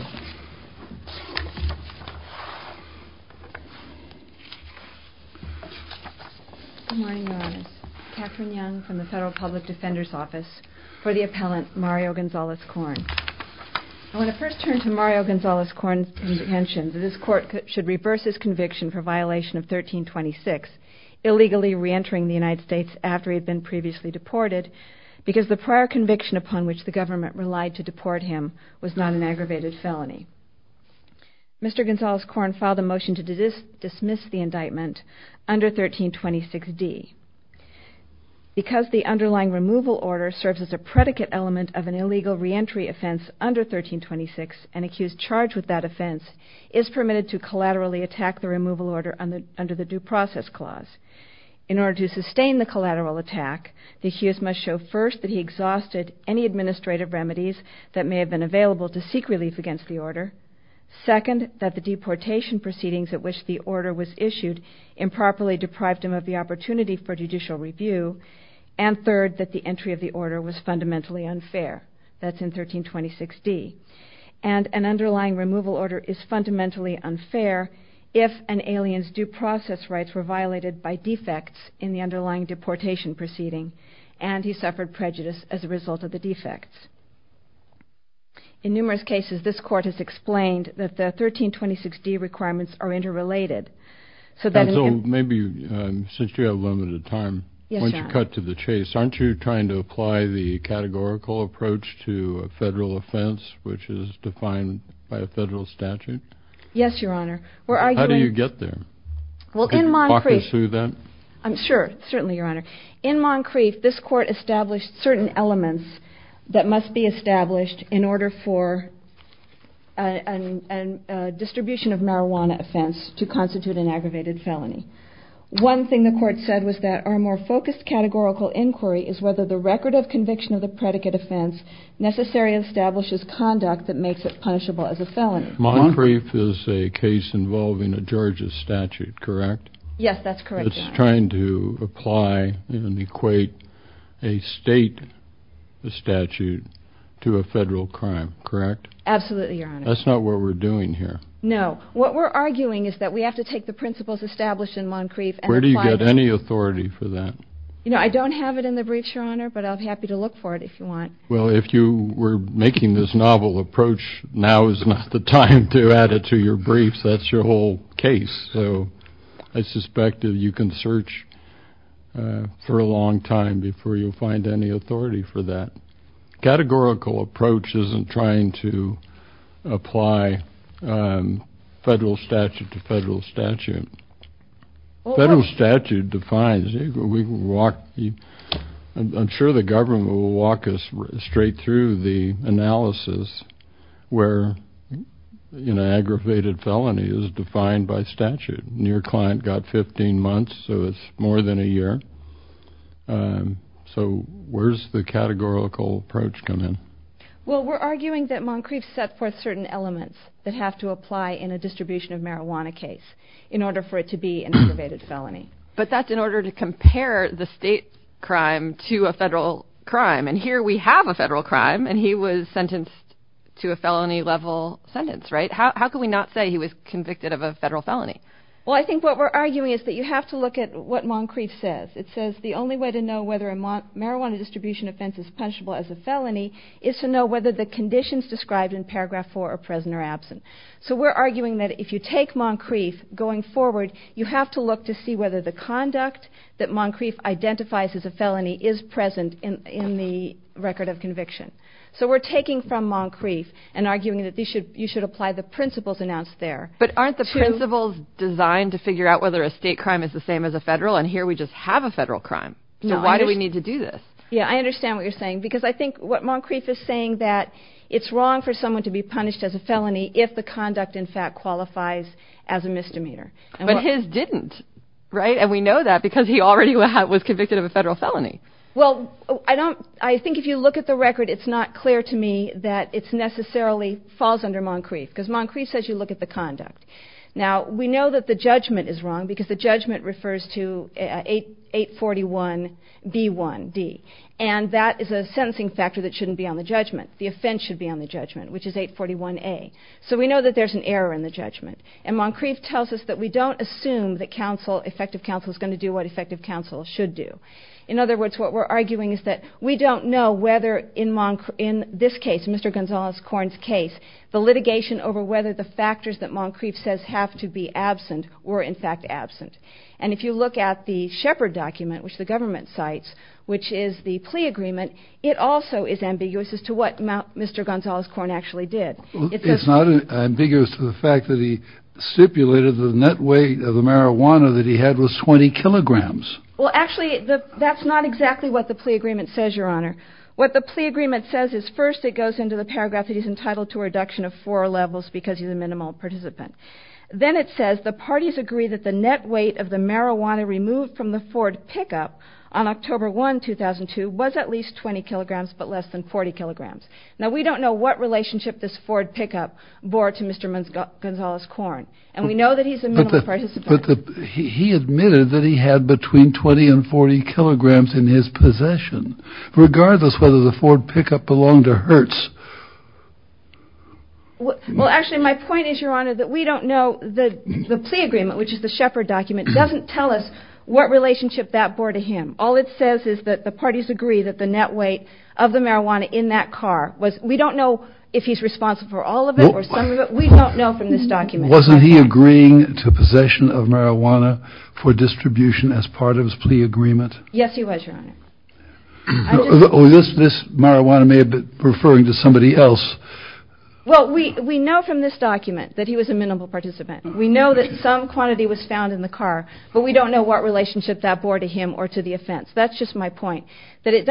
I want to first turn to Mario Gonzalez-Corn's intention that this court should reverse his conviction for violation of 1326, illegally re-entering the United States after he had been previously deported, because the prior conviction upon which the government relied to deport him was not an aggravated felony. Mr. Gonzalez-Corn filed a motion to dismiss the indictment under 1326D. Because the underlying removal order serves as a predicate element of an illegal re-entry offense under 1326, an accused charged with that offense is permitted to collaterally attack the removal order under the Due Process Clause. In order to sustain the collateral attack, the accused must show first that he exhausted any administrative remedies that may have been available to seek relief against the order, second, that the deportation proceedings at which the order was issued improperly deprived him of the opportunity for judicial review, and third, that the entry of the order was fundamentally unfair. That's in 1326D. And an underlying removal order is fundamentally unfair if an alien's due process rights were violated by defects in the underlying deportation proceeding, and he suffered prejudice as a result of the defects. In numerous cases, this Court has explained that the 1326D requirements are interrelated, so that he can... Counsel, maybe, since you have limited time, why don't you cut to the chase. Aren't you trying to apply the categorical approach to a federal offense, which is defined by a federal statute? Yes, Your Honor. Where are you in... How do you get there? Well, in Moncrief... Can you walk us through that? I'm sure. Certainly, Your Honor. In Moncrief, this Court established certain elements that must be established in order for a distribution of marijuana offense to constitute an aggravated felony. One thing the Court said was that our more focused categorical inquiry is whether the record of conviction of the predicate offense necessarily establishes conduct that makes it punishable as a felony. Moncrief is a case involving a Georgia statute, correct? Yes, that's correct, Your Honor. It's trying to apply and equate a state statute to a federal crime, correct? Absolutely, Your Honor. That's not what we're doing here. No. What we're arguing is that we have to take the principles established in Moncrief and apply them... Where do you get any authority for that? You know, I don't have it in the briefs, Your Honor, but I'll be happy to look for it if you want. Well, if you were making this novel approach, now is not the time to add it to your briefs. That's your whole case. So, I suspect that you can search for a long time before you find any authority for that. Categorical approach isn't trying to apply federal statute to federal statute. Federal statute defines, we can walk, I'm sure the government will walk us straight through the analysis where, you know, aggravated felony is defined by statute. Your client got 15 months, so it's more than a year, so where's the categorical approach come in? Well, we're arguing that Moncrief set forth certain elements that have to apply in a distribution of marijuana case in order for it to be an aggravated felony. But that's in order to compare the state crime to a federal crime, and here we have a federal crime, and he was sentenced to a felony level sentence, right? How can we not say he was convicted of a federal felony? Well, I think what we're arguing is that you have to look at what Moncrief says. It says the only way to know whether a marijuana distribution offense is punishable as a felony is to know whether the conditions described in paragraph four are present or absent. So we're arguing that if you take Moncrief going forward, you have to look to see whether the conduct that Moncrief identifies as a felony is present in the record of conviction. So we're taking from Moncrief and arguing that you should apply the principles announced there. But aren't the principles designed to figure out whether a state crime is the same as a federal? And here we just have a federal crime. No. So why do we need to do this? Yeah, I understand what you're saying, because I think what Moncrief is saying that it's wrong for someone to be punished as a felony if the conduct, in fact, qualifies as a misdemeanor. But his didn't, right? And we know that because he already was convicted of a federal felony. Well, I don't, I think if you look at the record, it's not clear to me that it's necessarily falls under Moncrief because Moncrief says you look at the conduct. Now we know that the judgment is wrong because the judgment refers to 841B1D. And that is a sentencing factor that shouldn't be on the judgment. The offense should be on the judgment, which is 841A. So we know that there's an error in the judgment. And Moncrief tells us that we don't assume that counsel, effective counsel, is going to do what effective counsel should do. In other words, what we're arguing is that we don't know whether in this case, Mr. Gonzales-Korn's case, the litigation over whether the factors that Moncrief says have to be absent were in fact absent. And if you look at the Shepard document, which the government cites, which is the plea agreement, it also is ambiguous as to what Mr. Gonzales-Korn actually did. It's not ambiguous to the fact that he stipulated the net weight of the marijuana that he had was 20 kilograms. Well, actually, that's not exactly what the plea agreement says, Your Honor. What the plea agreement says is first it goes into the paragraph that he's entitled to a reduction of four levels because he's a minimal participant. Then it says the parties agree that the net weight of the marijuana removed from the Ford pickup on October 1, 2002 was at least 20 kilograms, but less than 40 kilograms. Now, we don't know what relationship this Ford pickup bore to Mr. Gonzales-Korn, and we know that he's a minimal participant. He admitted that he had between 20 and 40 kilograms in his possession, regardless whether the Ford pickup belonged to Hertz. Well, actually, my point is, Your Honor, that we don't know the plea agreement, which is the Shepard document, doesn't tell us what relationship that bore to him. All it says is that the parties agree that the net weight of the marijuana in that car was... We don't know if he's responsible for all of it or some of it. We don't know from this document. Wasn't he agreeing to possession of marijuana for distribution as part of his plea agreement? Yes, he was, Your Honor. This marijuana may have been referring to somebody else. Well, we know from this document that he was a minimal participant. We know that some quantity was found in the car, but we don't know what relationship that That's just my point, that it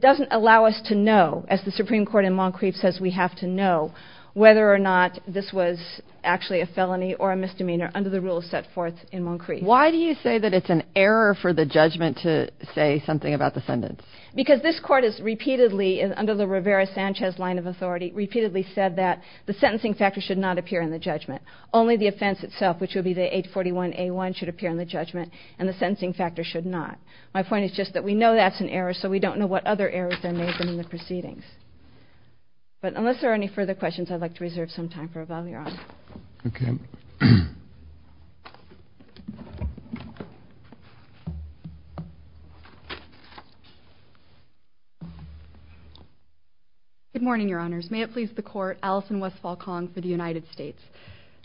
doesn't allow us to know, as the Supreme Court in Moncrief says we have to know, whether or not this was actually a felony or a misdemeanor under the rules set forth in Moncrief. Why do you say that it's an error for the judgment to say something about the sentence? Because this court has repeatedly, under the Rivera-Sanchez line of authority, repeatedly said that the sentencing factor should not appear in the judgment. Only the offense itself, which would be the 841A1, should appear in the judgment, and the sentencing factor should not. My point is just that we know that's an error, so we don't know what other errors there may have been in the proceedings. But unless there are any further questions, I'd like to reserve some time for rebuttal, Your Honor. Okay. Good morning, Your Honors. May it please the Court, Alison Westphal-Kong for the United States.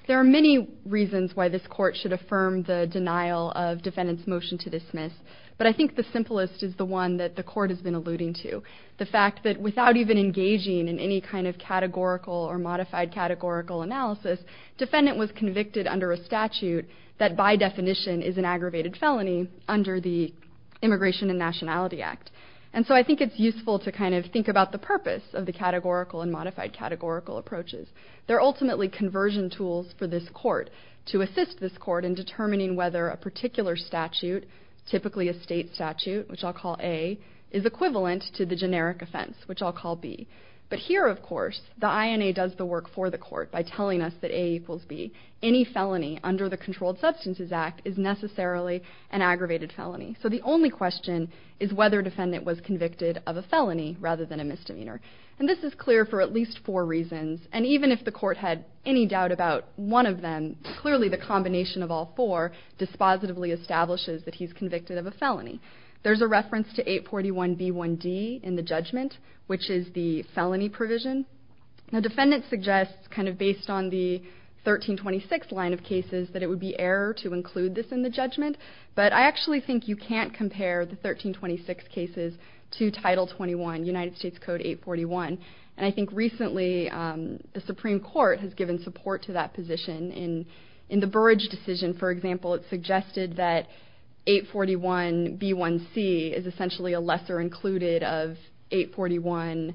There are many reasons why this Court should affirm the denial of defendant's motion to But I think the simplest is the one that the Court has been alluding to, the fact that without even engaging in any kind of categorical or modified categorical analysis, defendant was convicted under a statute that by definition is an aggravated felony under the Immigration and Nationality Act. And so I think it's useful to kind of think about the purpose of the categorical and modified categorical approaches. They're ultimately conversion tools for this Court to assist this Court in determining whether a particular statute, typically a state statute, which I'll call A, is equivalent to the generic offense, which I'll call B. But here, of course, the INA does the work for the Court by telling us that A equals B. Any felony under the Controlled Substances Act is necessarily an aggravated felony. So the only question is whether defendant was convicted of a felony rather than a misdemeanor. And this is clear for at least four reasons. And even if the Court had any doubt about one of them, clearly the combination of all four dispositively establishes that he's convicted of a felony. There's a reference to 841B1D in the judgment, which is the felony provision. Now, defendant suggests kind of based on the 1326 line of cases that it would be error to include this in the judgment. But I actually think you can't compare the 1326 cases to Title 21, United States Code 841. And I think recently the Supreme Court has given support to that position in the Burrage decision. For example, it suggested that 841B1C is essentially a lesser included of 841,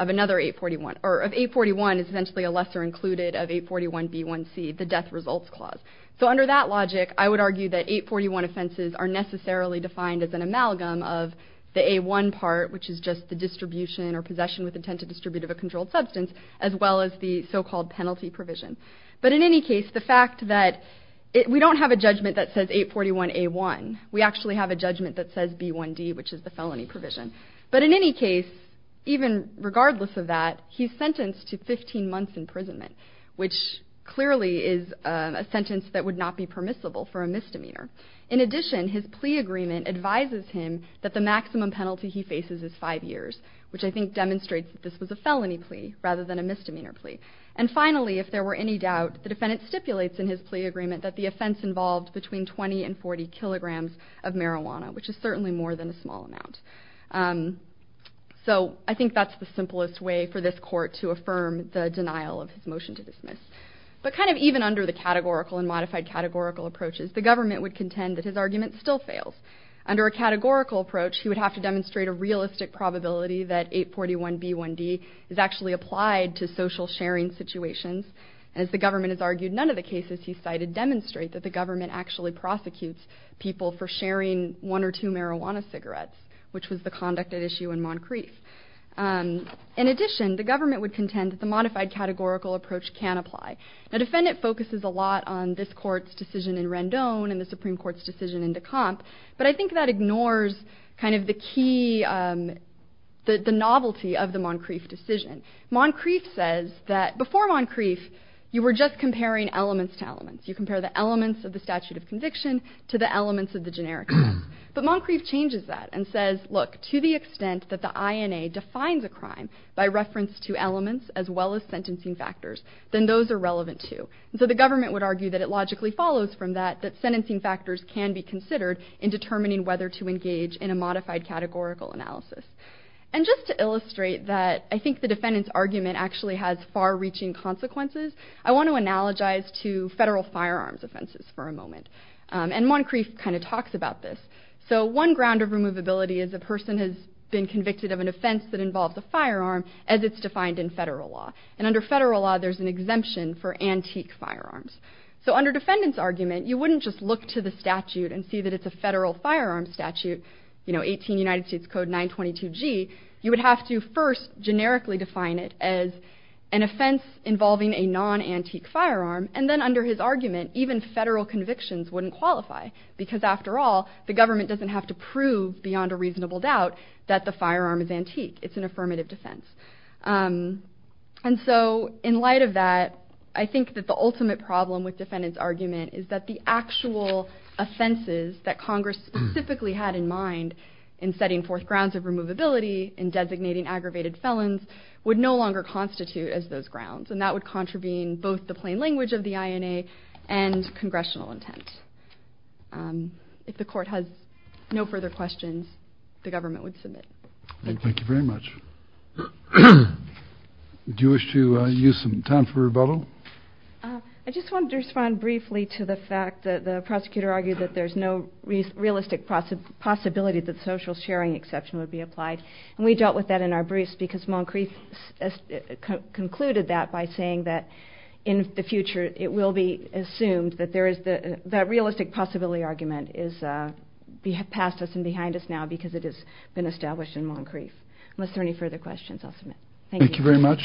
of another 841, or of 841 is essentially a lesser included of 841B1C, the death results clause. So under that logic, I would argue that 841 offenses are necessarily defined as an amalgam of the A1 part, which is just the distribution or possession with intent to distribute of a controlled substance, as well as the so-called penalty provision. But in any case, the fact that we don't have a judgment that says 841A1, we actually have a judgment that says B1D, which is the felony provision. But in any case, even regardless of that, he's sentenced to 15 months imprisonment, which clearly is a sentence that would not be permissible for a misdemeanor. In addition, his plea agreement advises him that the maximum penalty he faces is five years, which I think demonstrates that this was a felony plea rather than a misdemeanor plea. And finally, if there were any doubt, the defendant stipulates in his plea agreement that the offense involved between 20 and 40 kilograms of marijuana, which is certainly more than a small amount. So I think that's the simplest way for this court to affirm the denial of his motion to dismiss. But kind of even under the categorical and modified categorical approaches, the government would contend that his argument still fails. Under a categorical approach, he would have to demonstrate a realistic probability that 841B1D is actually applied to social sharing situations. And as the government has argued, none of the cases he cited demonstrate that the government actually prosecutes people for sharing one or two marijuana cigarettes, which was the conduct at issue in Moncrief. In addition, the government would contend that the modified categorical approach can apply. The defendant focuses a lot on this court's decision in Rendon and the Supreme Court's decision in Decomp. But I think that ignores kind of the key, the novelty of the Moncrief decision. Moncrief says that before Moncrief, you were just comparing elements to elements. You compare the elements of the statute of conviction to the elements of the generic case. But Moncrief changes that and says, look, to the extent that the INA defines a crime by reference to elements as well as sentencing factors, then those are relevant too. Sentencing factors can be considered in determining whether to engage in a modified categorical analysis. And just to illustrate that I think the defendant's argument actually has far-reaching consequences, I want to analogize to federal firearms offenses for a moment. And Moncrief kind of talks about this. So one ground of removability is a person has been convicted of an offense that involves a firearm as it's defined in federal law. And under federal law, there's an exemption for antique firearms. So under defendant's argument, you wouldn't just look to the statute and see that it's a federal firearm statute, you know, 18 United States Code 922G, you would have to first generically define it as an offense involving a non-antique firearm. And then under his argument, even federal convictions wouldn't qualify because after all the government doesn't have to prove beyond a reasonable doubt that the firearm is antique. It's an affirmative defense. And so in light of that, I think that the ultimate problem with defendant's argument is that the actual offenses that Congress specifically had in mind in setting forth grounds of removability and designating aggravated felons would no longer constitute as those grounds and that would contravene both the plain language of the INA and congressional intent. If the court has no further questions, the government would submit. Thank you very much. Do you wish to use some time for rebuttal? I just wanted to respond briefly to the fact that the prosecutor argued that there's no realistic possibility that social sharing exception would be applied. And we dealt with that in our briefs because Moncrief concluded that by saying that in the future, it will be assumed that there is the realistic possibility argument is past us and behind us now because it has been established in Moncrief. Unless there are any further questions, I'll submit. Thank you. Thank you very much.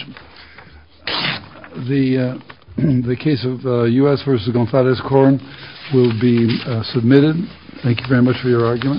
The case of U.S. v. Gonzalez-Corn will be submitted. Thank you very much for your argument.